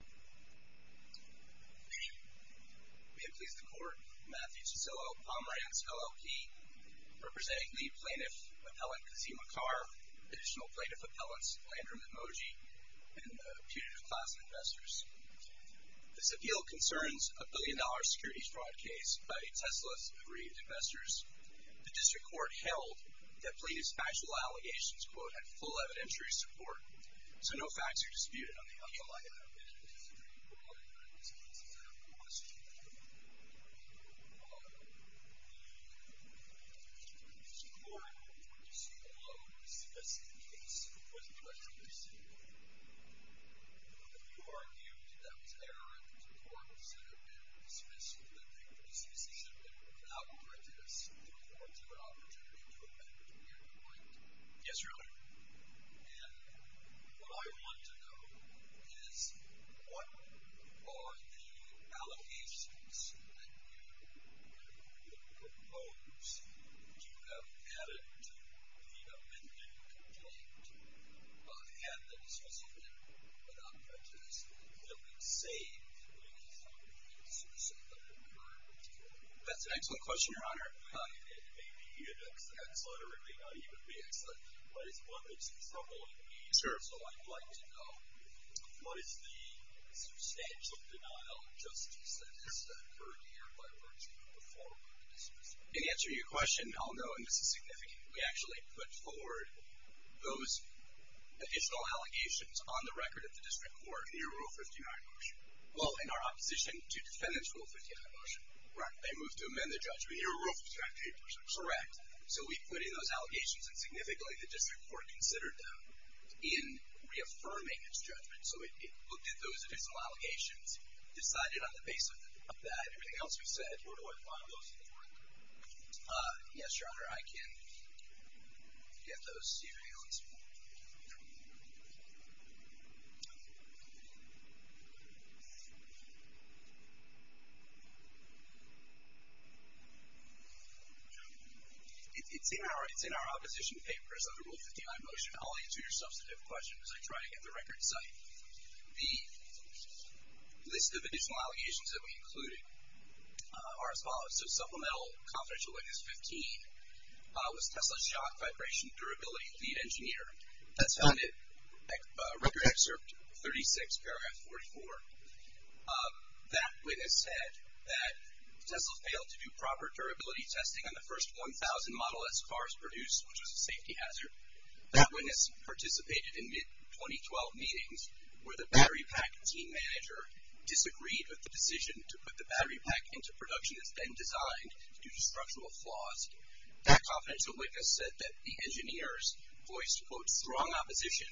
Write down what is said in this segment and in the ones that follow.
May it please the Court, Matthew Cicillo, Pomerantz, LLP. Representing the plaintiff appellant Kazim Acar, additional plaintiff appellants Landrum and Mogi, and the putative class investors. This appeal concerns a billion-dollar security fraud case by Tesla's aggrieved investors. The district court held that plaintiff's actual allegations, quote, had full evidentiary support. So no facts are disputed on the appeal item. Yes, Your Honor. That's an excellent question, Your Honor. It may be an excellent letter. It may not even be excellent. But it's one that's troubling me. Sure. So I'd like to know what is the substantial denial of justice that has occurred here by the district court before the dismissal? In answering your question, I'll note, and this is significant, we actually put forward those additional allegations on the record of the district court in your Rule 59 motion. Well, in our opposition to defendant's Rule 59 motion. Right. They moved to amend the judgment. In your Rule 59 motion. Correct. So we put in those allegations and significantly the district court considered them in reaffirming its judgment. So it looked at those additional allegations, decided on the basis of that, everything else we said, where do I find those in the court? Yes, Your Honor, I can get those. It's in our opposition papers under Rule 59 motion. I'll answer your substantive question as I try to get the record in sight. The list of additional allegations that we included are as follows. So supplemental confidential witness 15 was Tesla Shock Vibration Durability Lead Engineer. That's found in record excerpt 36, paragraph 44. That witness said that Tesla failed to do proper durability testing on the first 1,000 Model S cars produced, which was a safety hazard. That witness participated in mid-2012 meetings where the battery pack team manager disagreed with the decision to put the battery pack into production that's been designed due to structural flaws. That confidential witness said that the engineers voiced, quote, strong opposition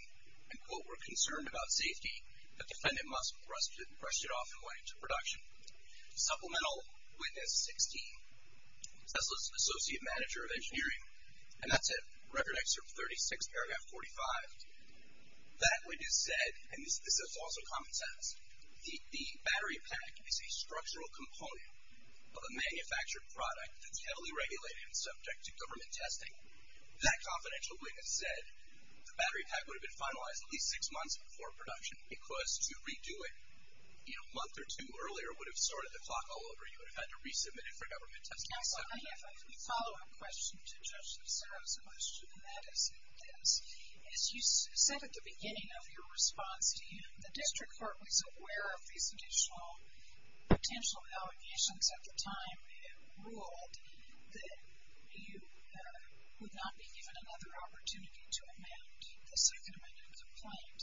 and, quote, were concerned about safety. The defendant must have brushed it off and went into production. Supplemental witness 16, Tesla's associate manager of engineering. And that's in record excerpt 36, paragraph 45. That witness said, and this is also common sense, the battery pack is a structural component of a manufactured product that's heavily regulated and subject to government testing. That confidential witness said the battery pack would have been finalized at least six months before production because to redo it a month or two earlier would have sorted the clock all over. You would have had to resubmit it for government testing. I have a follow-up question to Judge Lucero's question, and that is this. As you said at the beginning of your response to him, the district court was aware of these additional potential allegations at the time. It ruled that you would not be given another opportunity to amend the second amendment complaint.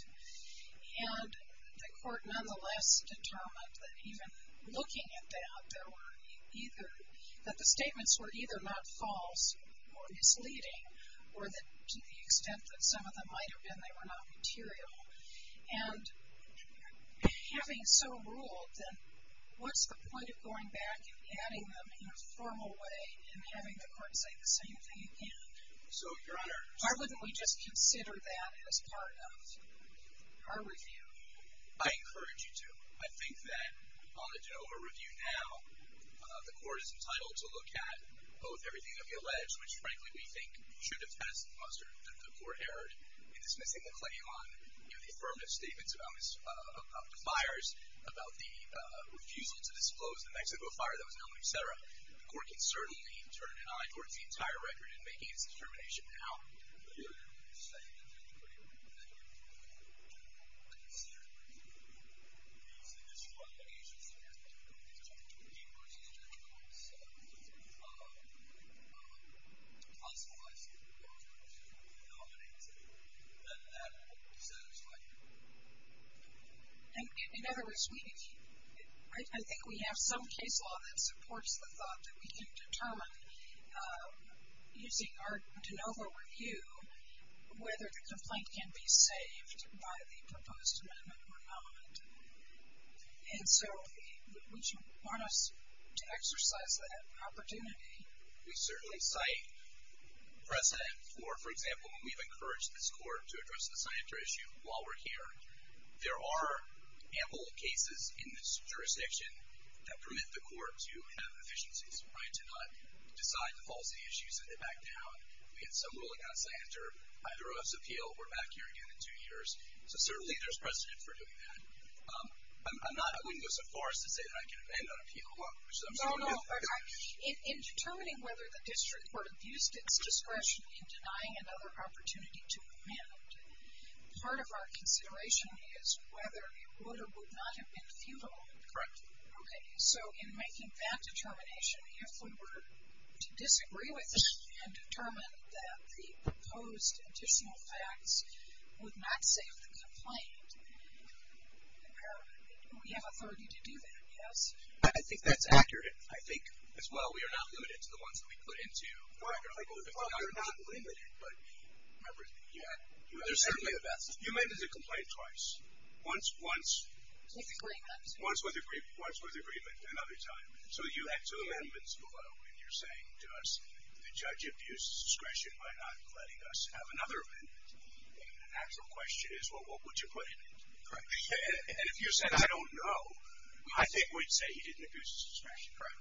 And the court nonetheless determined that even looking at that, there were either, that the statements were either not false or misleading or that to the extent that some of them might have been, they were not material. And having so ruled, then what's the point of going back and adding them in a formal way and having the court say the same thing again? Why wouldn't we just consider that as part of our review? I encourage you to. I think that on the general review now, the court is entitled to look at both everything that we allege, which frankly we think should have passed the court error in dismissing the claim on the affirmative statements about the fires, about the refusal to disclose the Mexico fire that was known, et cetera. The court can certainly turn an eye towards the entire record in making its determination now. In other words, I think we have some case law that supports the thought that we can determine, using our de novo review, whether the complaint can be saved by the proposed amendment or not. And so we want us to exercise that opportunity. We certainly cite precedent for, for example, when we've encouraged this court to address the scientific issue while we're here. There are ample cases in this jurisdiction that permit the court to have efficiencies, right? To not decide the policy issues and then back down. We had some ruling on Sander. I threw us appeal. We're back here again in two years. So certainly there's precedent for doing that. I'm not, I wouldn't go so far as to say that I can abandon appeal. No, no. In determining whether the district court abused its discretion in denying another opportunity to amend, part of our consideration is whether it would or would not have been futile. Correct. Okay. So in making that determination, if we were to disagree with it and determine that the proposed additional facts would not save the complaint, we have authority to do that, yes? I think that's accurate. I think, as well, we are not limited to the ones that we put into the record. Well, you're not limited, but everything. Yeah. That would be the best. You amended the complaint twice. Once with agreement, another time. So you had two amendments below, and you're saying to us, the judge abused his discretion by not letting us have another amendment. The actual question is, well, what would you put in it? Correct. And if you said, I don't know, I think we'd say he didn't abuse his discretion. Correct.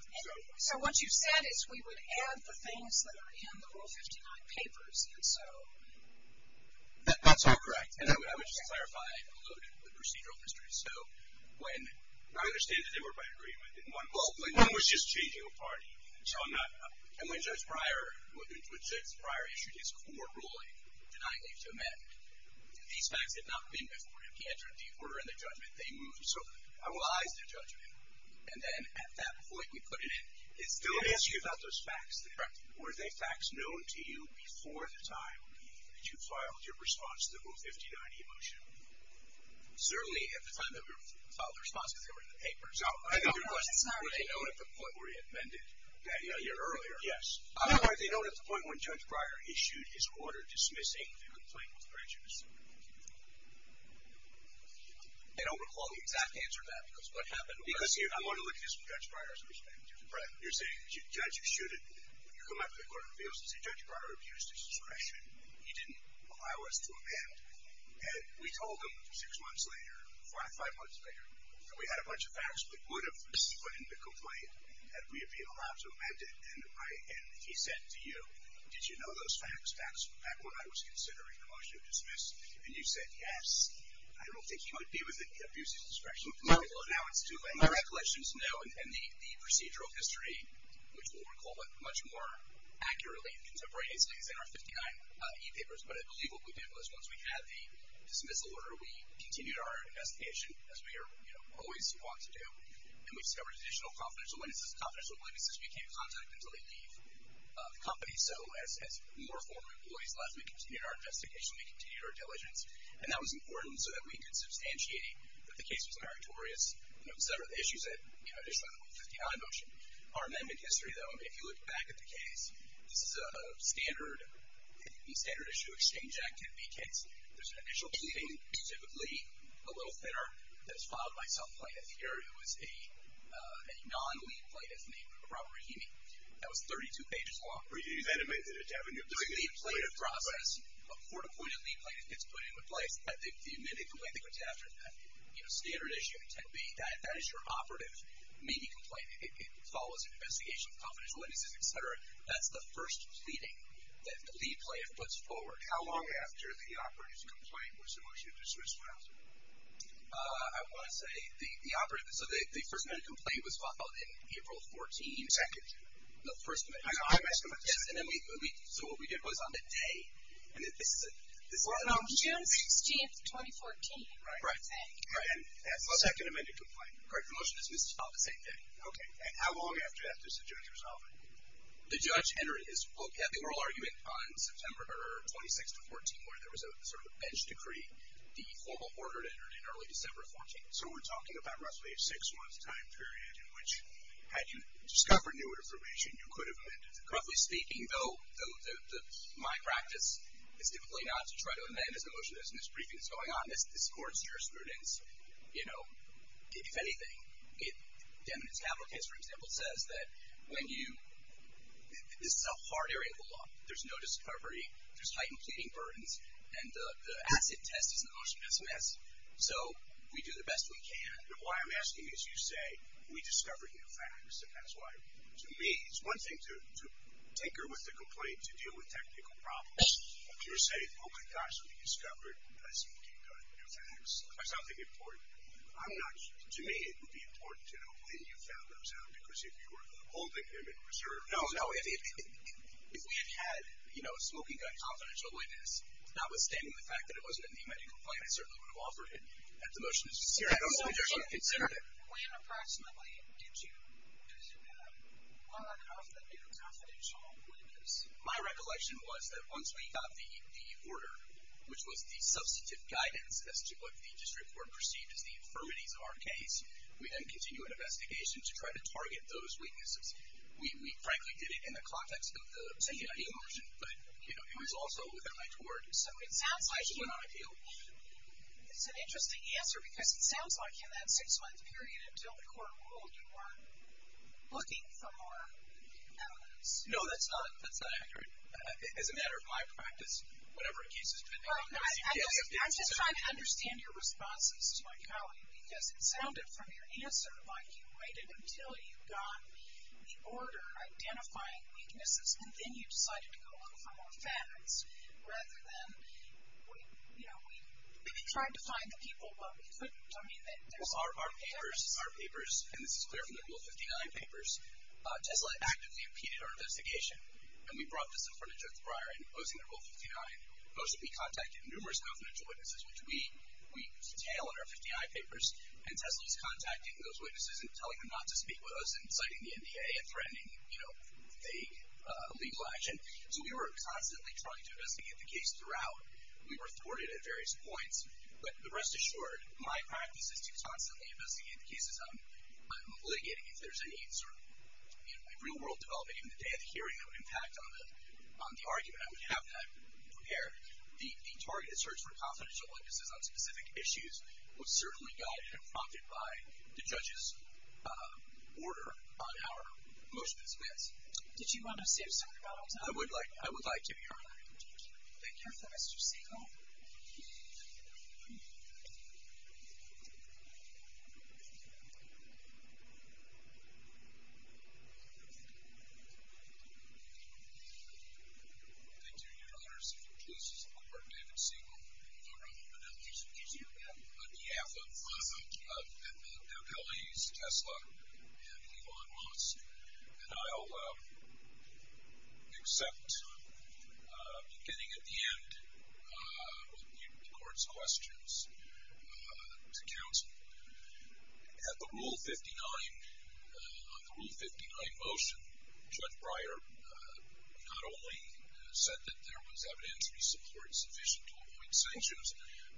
So what you said is we would add the things that are in the Rule 59 papers, and so. That's all correct. And I would just clarify and elude the procedural history. So when. I understand that they were by agreement. Well, it was just changing a party. So I'm not. And when Judge Breyer, when Judge Breyer issued his court ruling denying leave to amend, these facts had not been before him. He entered the order in the judgment, they moved. So I will eyes the judgment. And then at that point, we put it in. It's. Those facts. Correct. Were they facts known to you before the time that you filed your response to the Rule 59 e-motion? Certainly at the time that we filed the response, because they were in the papers. No, I know. Your question is, were they known at the point where he amended that year earlier? Yes. Or were they known at the point when Judge Breyer issued his order dismissing the complaint with prejudice? I don't recall the exact answer to that, because what happened. Because I want to look at Judge Breyer's perspective. Right. You're saying, Judge, you shouldn't. You come out to the court of appeals and say, Judge Breyer abused his discretion. He didn't allow us to amend. And we told him six months later, five months later, that we had a bunch of facts that would have split in the complaint and that we had been allowed to amend it. And he said to you, did you know those facts back when I was considering the motion of dismiss? And you said, yes. I don't think you would be within the abuse of discretion. My recollection is, no. And the procedural history, which we'll recall much more accurately in contemporary days, I think is in our 59 e-papers. But I believe what we did was once we had the dismissal order, we continued our investigation, as we always want to do. And we discovered additional confidential witnesses. Confidential witnesses, we can't contact until they leave the company. So as more former employees left, we continued our investigation. We continued our diligence. And that was important so that we could substantiate that the case was non-territorious. You know, several issues that, you know, are just part of the 50-I motion. Our amendment history, though, if you look back at the case, this is a standard, the standard issue exchange act can be kissed. There's an initial pleading, typically a little thinner, that's filed by self-plaintiff. Here it was a non-lead plaintiff named Robert Rahimi. That was 32 pages long. Were you then admitted to having a plea? It was a lead plaintiff process. A court-appointed lead plaintiff gets put into place. The immediate complaint that goes after that, you know, standard issue, 10B, that is your operative, maybe complaint. It follows an investigation of confidential witnesses, et cetera. That's the first pleading that the lead plaintiff puts forward. How long after the operative's complaint was the motion to dismiss filed? I want to say the operative, so the first minute complaint was filed in April 14th. Second. The first minute. I'm asking about the second. Yes, and then we, so what we did was on the day. Well, no, June 16th, 2014. Right. And that's the second amended complaint. Correct. The motion is dismissed on the same day. Okay. And how long after that does the judge resolve it? The judge entered his oral argument on September 26th of 14, where there was a sort of bench decree, the formal order to enter it in early December 14th. So we're talking about roughly a six-month time period in which, had you discovered new information, you could have amended the complaint. Roughly speaking, though, my practice is typically not to try to amend as the motion is in this briefing that's going on. This court's jurisprudence, you know, if anything, it, Deming's capital case, for example, says that when you, this is a hard area of the law. There's no discovery. There's heightened pleading burdens. And the acid test is an emotional SMS. So we do the best we can. Why I'm asking is you say we discovered new facts. And that's why, to me, it's one thing to tinker with the complaint, to deal with technical problems. You're saying, oh, my gosh, we discovered a smoking gun. New facts. Or something important. I'm not sure. To me, it would be important to know when you found those out, because if you were holding them in reserve. No, no. If we had had, you know, a smoking gun confidential witness, notwithstanding the fact that it wasn't in the amended complaint, I certainly would have offered it at the motion. I don't think you should have considered it. When, approximately, did you discover one of the new confidential witnesses? My recollection was that once we got the order, which was the substantive guidance as to what the district court perceived as the affirmatives of our case, we then continued an investigation to try to target those weaknesses. We frankly did it in the context of the CID motion. But, you know, it was also within my tour. So it sounds like you went on appeal. It's an interesting answer. Because it sounds like in that six-month period until the court ruled, you weren't looking for more evidence. No, that's not accurate. As a matter of my practice, whatever a case is, depending on the case, you can't be consistent. I'm just trying to understand your responses to my colleague. Because it sounded from your answer like you waited until you got the order identifying weaknesses. And then you decided to go look for more facts. Rather than, you know, we tried to find the people, Well, our papers, and this is clear from the Rule 59 papers, Tesla actively impeded our investigation. And we brought this in front of Judge Breyer. In opposing the Rule 59, those that we contacted, numerous confidential witnesses, which we detail in our 59 papers. And Tesla was contacting those witnesses and telling them not to speak with us, and citing the NDA, and threatening, you know, vague legal action. So we were constantly trying to investigate the case throughout. We were thwarted at various points. But rest assured, my practice is to constantly investigate the cases. I'm litigating if there's any sort of, you know, real-world development. Even the day of the hearing, I would impact on the argument. I would have that prepared. The targeted search for confidential witnesses on specific issues was certainly guided and prompted by the judge's order on our motion to dismiss. I would like to be heard. Thank you. Thank you, Mr. Siegel. Thank you, Your Honors. If you'll please support David Siegel. I'm going to introduce you on behalf of L.A.'s Tesla and Elon Musk. And I'll accept, beginning at the end, the court's questions to counsel. At the Rule 59, on the Rule 59 motion, Judge Breyer not only said that there was evidentiary support sufficient to avoid sanctions,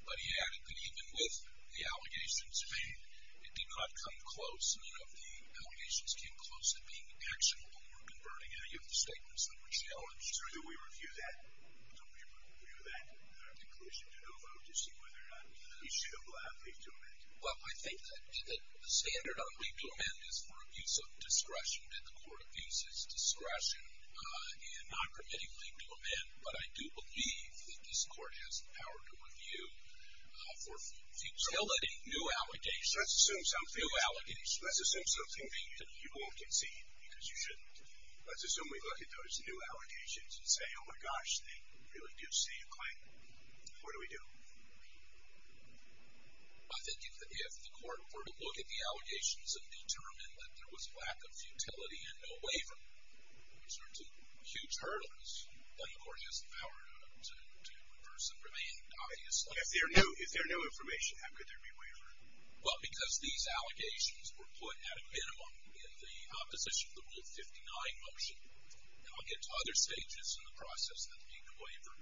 but he added that even with the allegations made, it did not come close. None of the allegations came close to being actionable or converting any of the statements that were challenged. Sir, do we review that? Do we review that declusion to no vote to see whether or not we should allow a plea to amend? Well, I think that the standard on plea to amend is for abuse of discretion. And the court abuses discretion in not permitting plea to amend. But I do believe that this court has the power to review for futility new allegations. So let's assume something you won't concede because you shouldn't. Let's assume we look at those new allegations and say, oh, my gosh, they really do state a claim. What do we do? I think if the court were to look at the allegations and determine that there was lack of futility and no waiver, which are two huge hurdles, then the court has the power to reverse and remain obviously. If there are no information, how could there be waiver? Well, because these allegations were put at a minimum in the opposition to Rule 59 motion. And I'll get to other stages in the process of the waiver.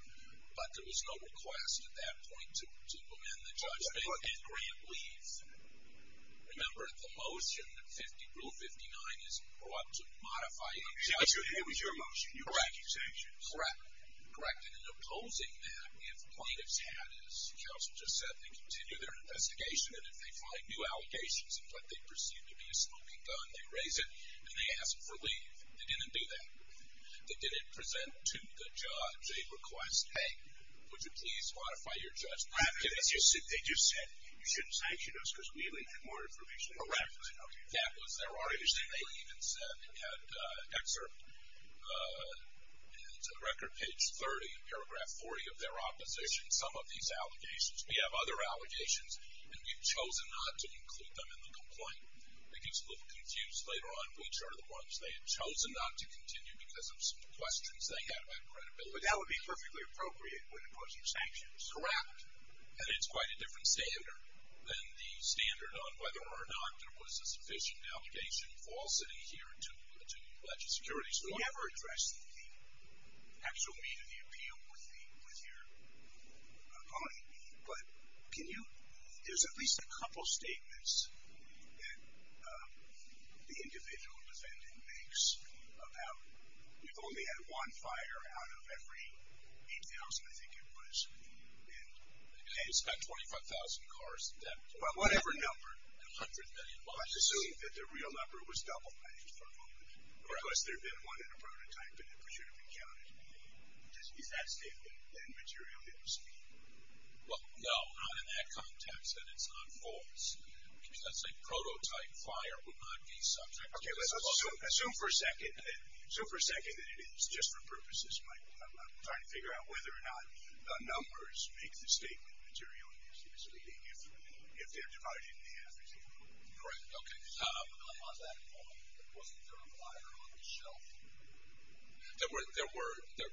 But there was no request at that point to amend the judgment and grant leave. Remember, the motion, Rule 59, is brought to modify the judgment. It was your motion. Correct. Correct. And in opposing that, if plaintiffs had, as Counsel just said, they continue their investigation, and if they find new allegations in what they perceive to be a smoking gun, they raise it, and they ask for leave. They didn't do that. They didn't present to the judge a request, hey, would you please modify your judgment? They just said, you shouldn't sanction us because we need more information. Correct. That was their argument. They even said they had an excerpt in record page 30, paragraph 40 of their opposition, some of these allegations. We have other allegations, and we've chosen not to include them in the complaint. It gets a little confused later on which are the ones they have chosen not to continue because of some questions they had about credibility. But that would be perfectly appropriate when opposing sanctions. Correct. And it's quite a different standard than the standard on whether or not there was a sufficient allegation falsity here to the legislature. We never addressed the actual meat of the appeal with your opponent, but can you – there's at least a couple statements that the individual defendant makes about we've only had one fire out of every 8,000, I think it was. And it's got 25,000 cars. Well, whatever number. And 100 million buses. I'm just assuming that the real number was doubled by his opponent. Correct. Because there had been one in a prototype, and it should have been counted. Is that statement, then, materially misleading? Well, no, not in that context, that it's not false. Let's say prototype fire would not be subject. Okay. Let's assume for a second that it is just for purposes, Michael. I'm trying to figure out whether or not the numbers make the statement materially misleading if they're divided in half, for example. Correct. Okay. On that point, wasn't there a fire on the shelf? There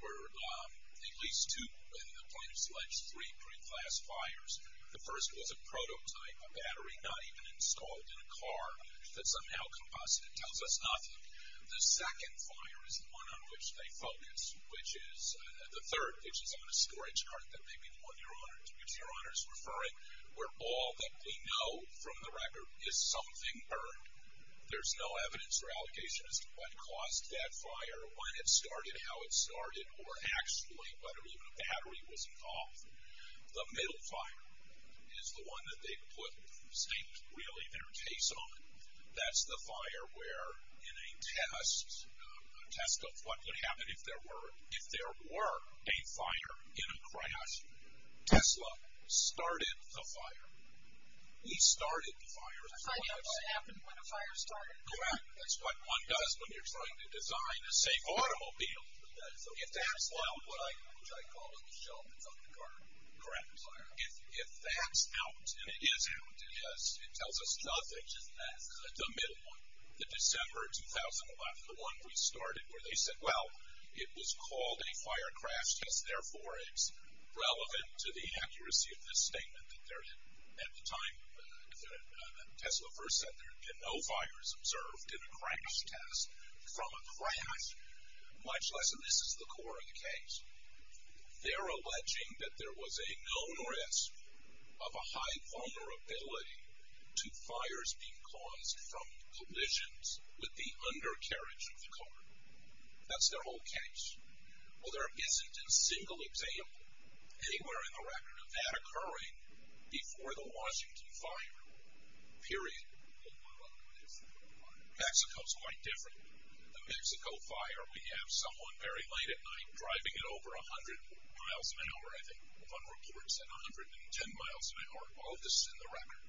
were at least two in the plaintiff's alleged three pre-class fires. The first was a prototype, a battery not even installed in a car, that somehow combusted. It tells us nothing. The second fire is the one on which they focus, which is the third, which is on a storage cart that maybe one of your honors is referring, where all that we know from the record is something burned. There's no evidence or allegations as to what caused that fire, when it started, how it started, or actually whether even a battery was involved. The middle fire is the one that they put the statement, really, their case on. That's the fire where in a test of what would happen if there were a fire in a crash, Tesla started the fire. He started the fire. That's how you know what happened when a fire started. Correct. That's what one does when you're trying to design a safe automobile. That's what I call a shelf that's on the car. Correct. If that's out, and it is out, it tells us nothing. The middle one, the December of 2011, the one we started where they said, well, it was called a fire crash, because, therefore, it's relevant to the accuracy of this statement that at the time Tesla first said there had been no fires observed in a crash test from a crash, much less, and this is the core of the case, they're alleging that there was a known risk of a high vulnerability to fires being caused from collisions with the undercarriage of the car. That's their whole case. Well, there isn't a single example anywhere in the record of that occurring before the Washington fire, period. Mexico is quite different. The Mexico fire, we have someone very late at night driving at over 100 miles an hour. I think one report said 110 miles an hour. All of this in the record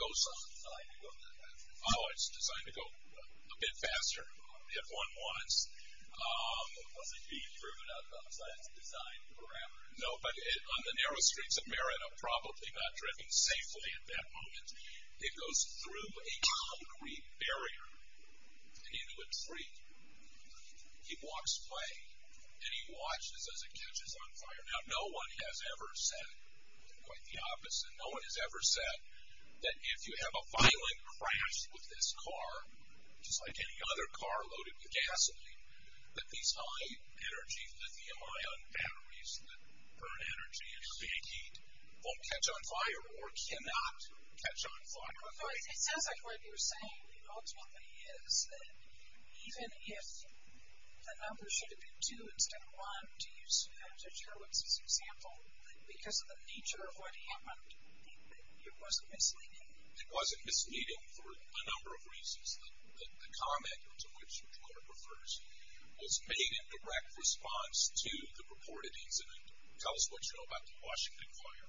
goes on. It's designed to go faster. Oh, it's designed to go a bit faster if one wants. Was it being driven outside its design parameters? No, but on the narrow streets of Merida, probably not driven safely at that moment, it goes through a concrete barrier and into a tree. He walks away, and he watches as it catches on fire. Now, no one has ever said quite the opposite. No one has ever said that if you have a violent crash with this car, just like any other car loaded with gasoline, that these high-energy lithium-ion batteries that burn energy and create heat won't catch on fire or cannot catch on fire. Although it sounds like what you're saying ultimately is that even if the number should have been two instead of one, to use Sir Gerowitz's example, because of the nature of what happened, it wasn't misleading. It wasn't misleading for a number of reasons. The comment to which the reporter refers was made in direct response to the reported incident. Tell us what you know about the Washington fire.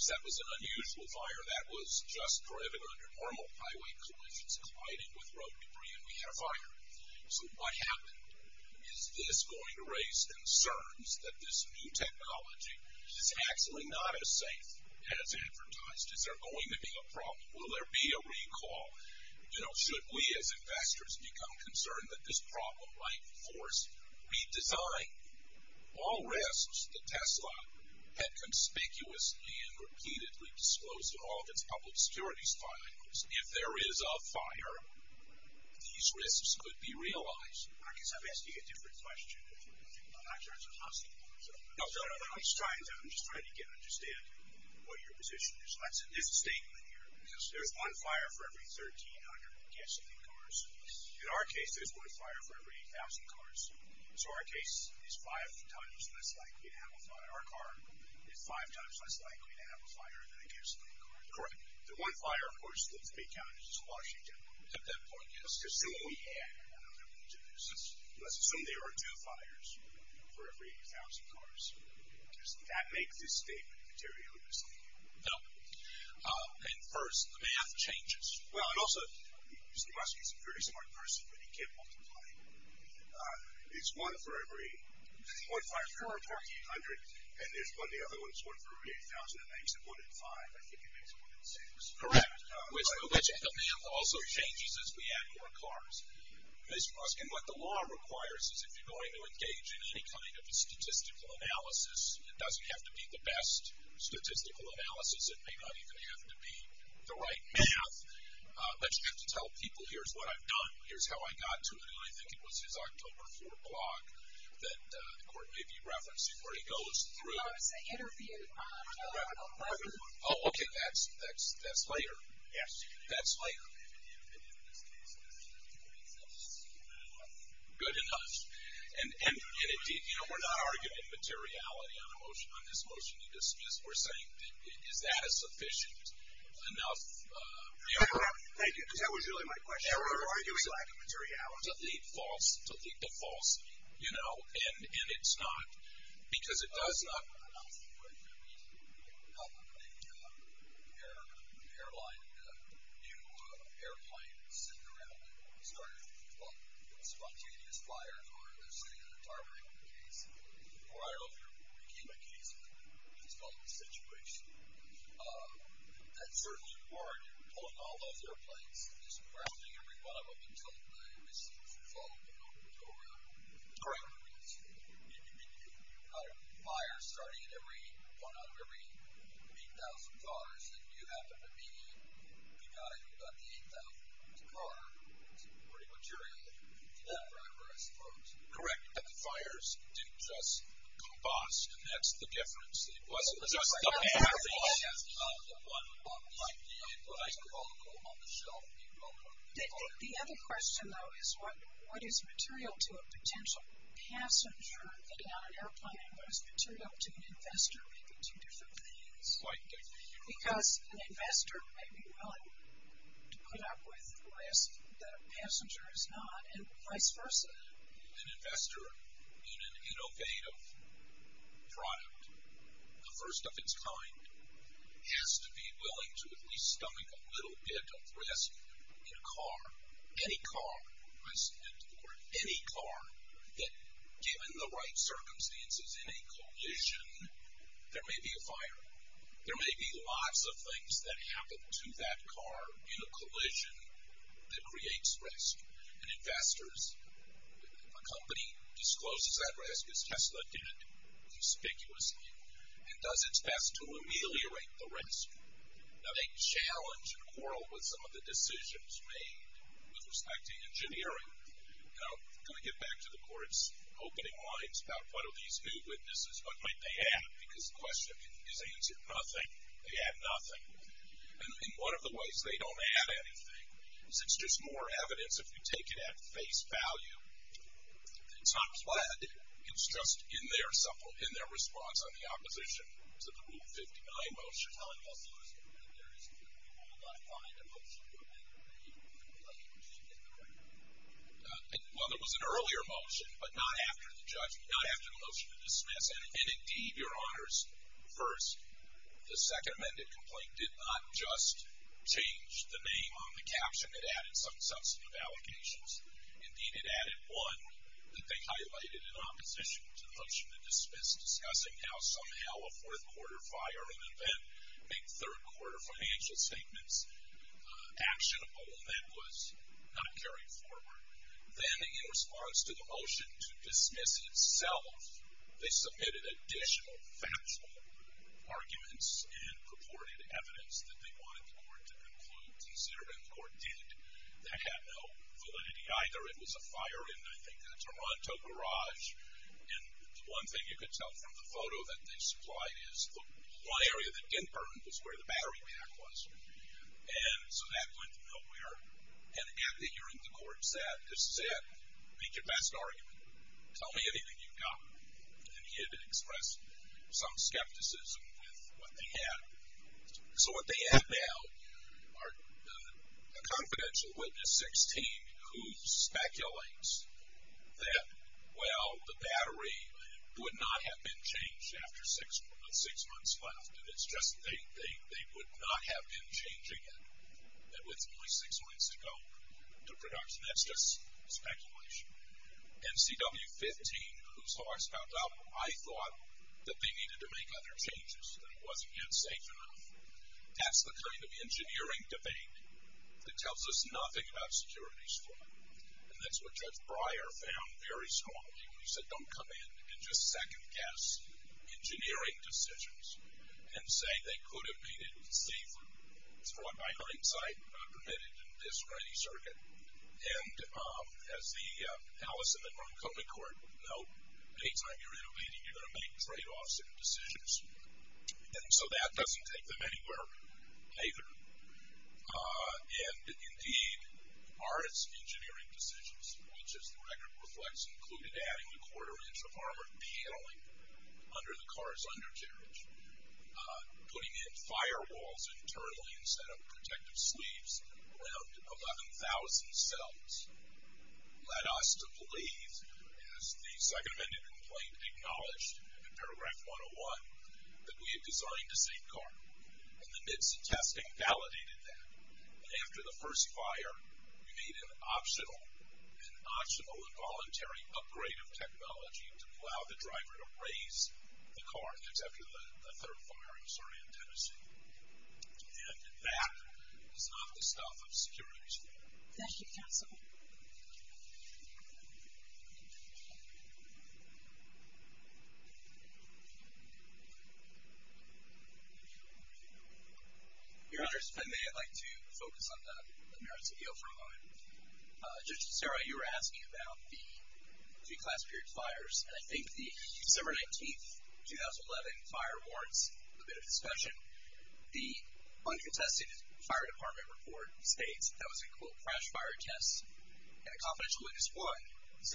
That was an unusual fire. That was just driving under normal highway conditions, colliding with road debris, and we had a fire. So what happened? Is this going to raise concerns that this new technology is actually not as safe as advertised? Is there going to be a problem? Will there be a recall? You know, should we, as investors, become concerned that this problem might force redesign? All risks that Tesla had conspicuously and repeatedly disclosed in all of its public security findings, if there is a fire, these risks could be realized. I guess I'm asking a different question. I'm not trying to hostile. No, no, no. I'm just trying to understand what your position is. There's a statement here. There's one fire for every 1,300 gasoline cars. In our case, there's one fire for every 8,000 cars. So our case is five times less likely to have a fire. Our car is five times less likely to have a fire than a gasoline car. Correct. The one fire, of course, in the big counties is Washington. At that point, let's assume we had another one. Let's assume there are two fires for every 8,000 cars. Does that make this statement materialistic? No. And, first, the math changes. Well, and also, Mr. Ruskin is a very smart person, but he can't multiply. There's one for every 1,500, and there's one for every 8,000, and that makes it one in five. I think it makes it one in six. Correct, which the math also changes as we add more cars. Mr. Ruskin, what the law requires is if you're going to engage in any kind of statistical analysis, it doesn't have to be the best statistical analysis. It may not even have to be the right math, but you have to tell people, here's what I've done, here's how I got to it. And I think it was his October 4 blog that the court may be referencing where he goes through. I was going to say interview. Oh, okay, that's later. Yes. That's later. And in this case, it was two weeks, not six. Good enough. And, you know, we're not arguing materiality on this motion you dismissed. We're saying is that a sufficient enough? Thank you. That was really my question. We're arguing lack of materiality. Delete false. Delete the false. You know, and it's not because it does not. I know. We have an airline. New airline sitting around and starting spontaneous fires or targeting the case. Or I don't know if you're a key by case, but that's not the situation. That's certainly part of pulling all those airplanes, just arresting everyone of them until the mission is over. Correct. You've got a fire starting at one out of every 8,000 cars. If you happen to be the guy who got the 8,000th car, it's important material for that driver, I suppose. Correct. But the fires didn't just combust, and that's the difference. It wasn't just the air. The other question, though, is what is material to a potential passenger getting on an airplane and what is material to an investor making two different things? Because an investor may be willing to put up with risk that a passenger is not and vice versa. An investor in an innovative product, the first of its kind, has to be willing to at least stomach a little bit of risk in a car, any car, I said it before, any car that given the right circumstances in a collision, there may be a fire. There may be lots of things that happen to that car in a collision that creates risk. And investors, a company discloses that risk, as Tesla did conspicuously, and does its best to ameliorate the risk. Now, they challenge and quarrel with some of the decisions made with respect to engineering. And I'm going to get back to the court's opening lines about what are these new witnesses, what might they add? Because the question is, is it nothing? They add nothing. And one of the ways they don't add anything is it's just more evidence if you take it at face value. It's not flat. It's just in their response on the opposition to the Rule 59 motion, they're telling us that there is, that we will not find a motion to amend the complaint. Did you get that right? Well, there was an earlier motion, but not after the judgment, not after the motion to dismiss. And indeed, Your Honors, first, the second amended complaint did not just change the name on the caption. It added some substantive allocations. Indeed, it added one that they highlighted in opposition to the motion to dismiss, discussing how somehow a fourth quarter fire, an event, made third quarter financial statements actionable and that was not carried forward. Then in response to the motion to dismiss itself, they submitted additional factual arguments and purported evidence that they wanted the court to conclude to zero. And the court did. That had no validity either. It was a fire in, I think, a Toronto garage. And the one thing you could tell from the photo that they supplied is the one area that didn't burn was where the battery pack was. And so that went nowhere. And at the hearing, the court said, this is it. Make your best argument. Tell me anything you've got. And he had expressed some skepticism with what they had. So what they have now are a confidential witness, 16, who speculates that, well, the battery would not have been changed after six months left. And it's just they would not have been changing it. It was only six months ago, the production. That's just speculation. And CW15, whose horse found out, I thought that they needed to make other changes, that it wasn't yet safe enough. That's the kind of engineering debate that tells us nothing about security's fault. And that's what Judge Breyer found very strong. He said, don't come in and just second-guess engineering decisions and say they could have made it safer. For what my hindsight, not permitted in this or any circuit. And as the Allison and Montgomery court would know, any time you're in a meeting, you're going to make trade-offs and decisions. And so that doesn't take them anywhere either. And, indeed, are its engineering decisions, which as the record reflects included adding a quarter-inch of armored paneling under the car's undercarriage, putting in firewalls internally instead of protective sleeves, around 11,000 cells, led us to believe, as the Second Amendment complaint acknowledged in Paragraph 101, that we had designed a safe car. In the midst of testing, validated that. And after the first fire, we made an optional and voluntary upgrade of technology to allow the driver to raise the car. That's after the third fire in Saran, Tennessee. And that is not the stuff of security's fault. Thank you, counsel. Your Honor, if I may, I'd like to focus on the merits of the oath for a moment. Judge DeSera, you were asking about the pre-class period fires. And I think the December 19, 2011 fire warrants a bit of discussion. The uncontested fire department report states that was a, quote, crash fire test. And a confidential witness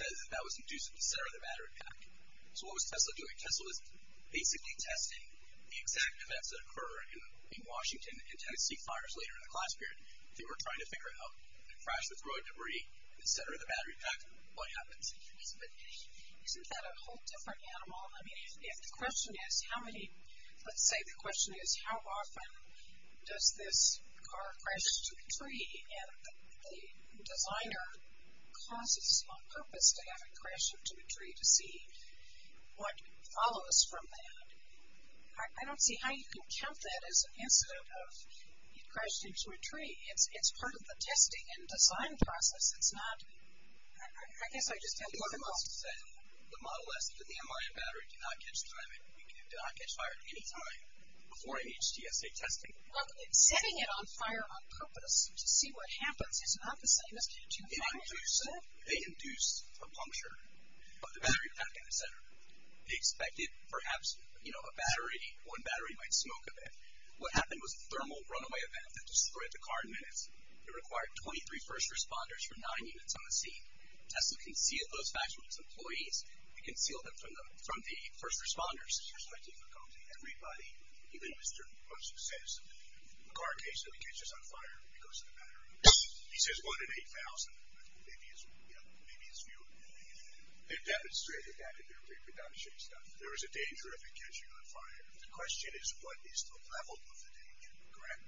1 says that that was induced at the center of the battery pack. So what was Tesla doing? Tesla was basically testing the exact events that occur in Washington and Tennessee fires later in the class period. They were trying to figure out, crash the road debris, the center of the battery pack, what happens. Isn't that a whole different animal? I mean, if the question is, how many, let's say the question is, how often does this car crash into a tree? And the designer causes on purpose to have it crash into a tree to see what follows from that. I don't see how you can count that as an incident of it crashed into a tree. It's part of the testing and design process. It's not, I guess I just don't know. The model says that the MRM battery did not catch fire at any time before any HTSA testing. Well, setting it on fire on purpose to see what happens is not the same as catching fire. They induced a puncture of the battery pack in the center. They expected perhaps, you know, a battery, one battery might smoke a bit. What happened was a thermal runaway event that destroyed the car in minutes. It required 23 first responders for nine units on the scene. Tesla concealed those facts from its employees. It concealed them from the first responders. There's no difficulty. Everybody, even Mr. Musk says, the car occasionally catches on fire because of the battery. He says one in 8,000. Maybe it's fewer than that. They've demonstrated that in their reproduction stuff. There is a danger if it catches on fire. The question is, what is the level of the danger? Correct?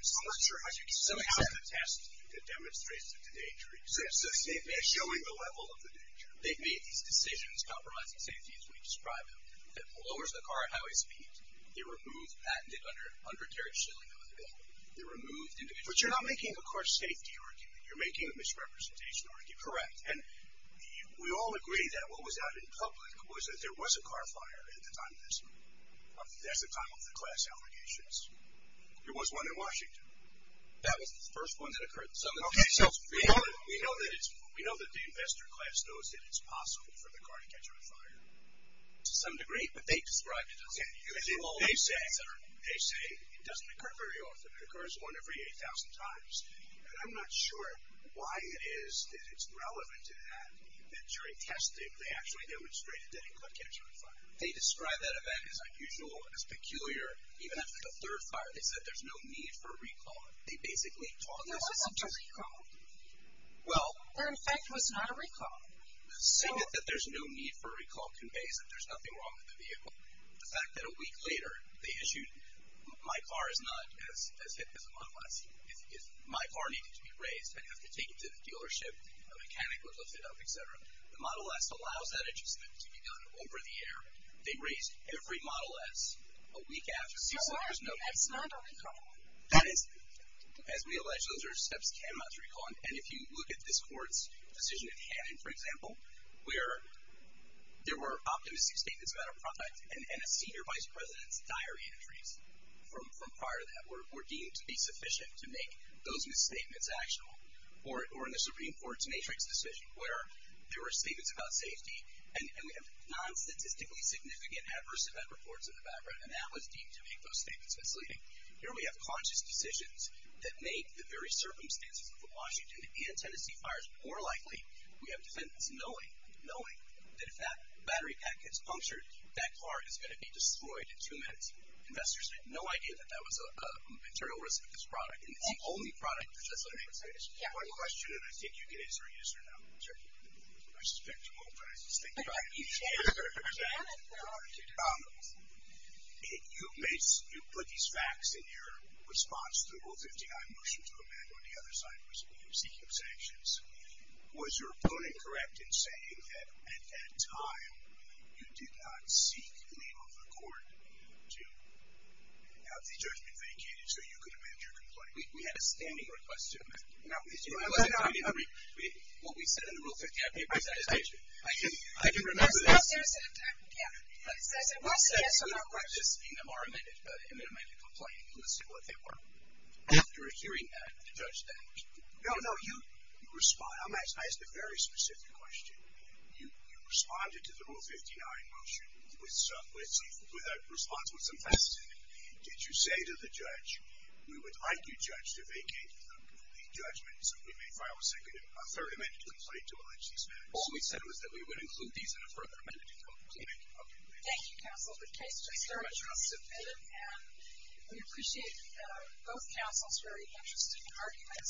I'm not sure how you can say that. It demonstrates that the danger exists. They've been showing the level of the danger. They've made these decisions, compromising safety as we describe them, that lowers the car at highway speed. They removed patented undercarriage shielding from the vehicle. But you're not making a car safety argument. You're making a misrepresentation argument. Correct. And we all agree that what was out in public was that there was a car fire at the time of this. That's the time of the class allegations. There was one in Washington. That was the first one that occurred. We know that the investor class knows that it's possible for the car to catch on fire. To some degree. But they describe it as it is. They say it doesn't occur very often. It occurs one every 8,000 times. And I'm not sure why it is that it's relevant to that, that during testing they actually demonstrated that it could catch on fire. They describe that event as unusual, as peculiar. Even after the third fire, they said there's no need for a recall. They basically talked us into it. There wasn't a recall. Well. There, in fact, was not a recall. Saying that there's no need for a recall conveys that there's nothing wrong with the vehicle. The fact that a week later they issued my car is not as hit as a Model S. My car needed to be raised. I'd have to take it to the dealership. A mechanic would lift it up, et cetera. The Model S allows that adjustment to be done over the air. They raised every Model S a week after. So there's no need for a recall. That is, as we allege, those are steps cannot be recalled. And if you look at this court's decision in Hannon, for example, where there were optimistic statements about our product and a senior vice president's diary entries from prior to that were deemed to be sufficient to make those misstatements actionable. Or in the Supreme Court's matrix decision where there were statements about safety and we have non-statistically significant adverse event reports in the background, and that was deemed to make those statements misleading. Here we have conscious decisions that make the very circumstances of the Washington and Tennessee fires more likely. We have defendants knowing, knowing that if that battery pack gets punctured, that car is going to be destroyed in two minutes. Investors had no idea that that was a material risk of this product. And it's the only product that does that. One question, and I think you can answer or use it or not. I suspect you won't, but I just think you might need to answer. You put these facts in your response to Rule 59, Motion to Amend, when the other side was seeking sanctions. Was your opponent correct in saying that at that time, you did not seek leave of the court to have the judgment vacated so you could amend your complaint? We had a standing request to amend it. No, no, no. What we said in the Rule 59 papers, I can remember this. I said, we'll say yes or no. I'm just speaking of our amended complaint. Let's see what they were. After hearing that, the judge then. No, no, you respond. I'm asking a very specific question. You responded to the Rule 59 motion with a response with some facts in it. Did you say to the judge, we would like you, Judge, to vacate the judgment so we may file a second, a third amended complaint to allege these facts? All we said was that we would include these in a further amended complaint. Okay. Thank you, Counsel. The case is submitted. And we appreciate both counsels' very interesting arguments.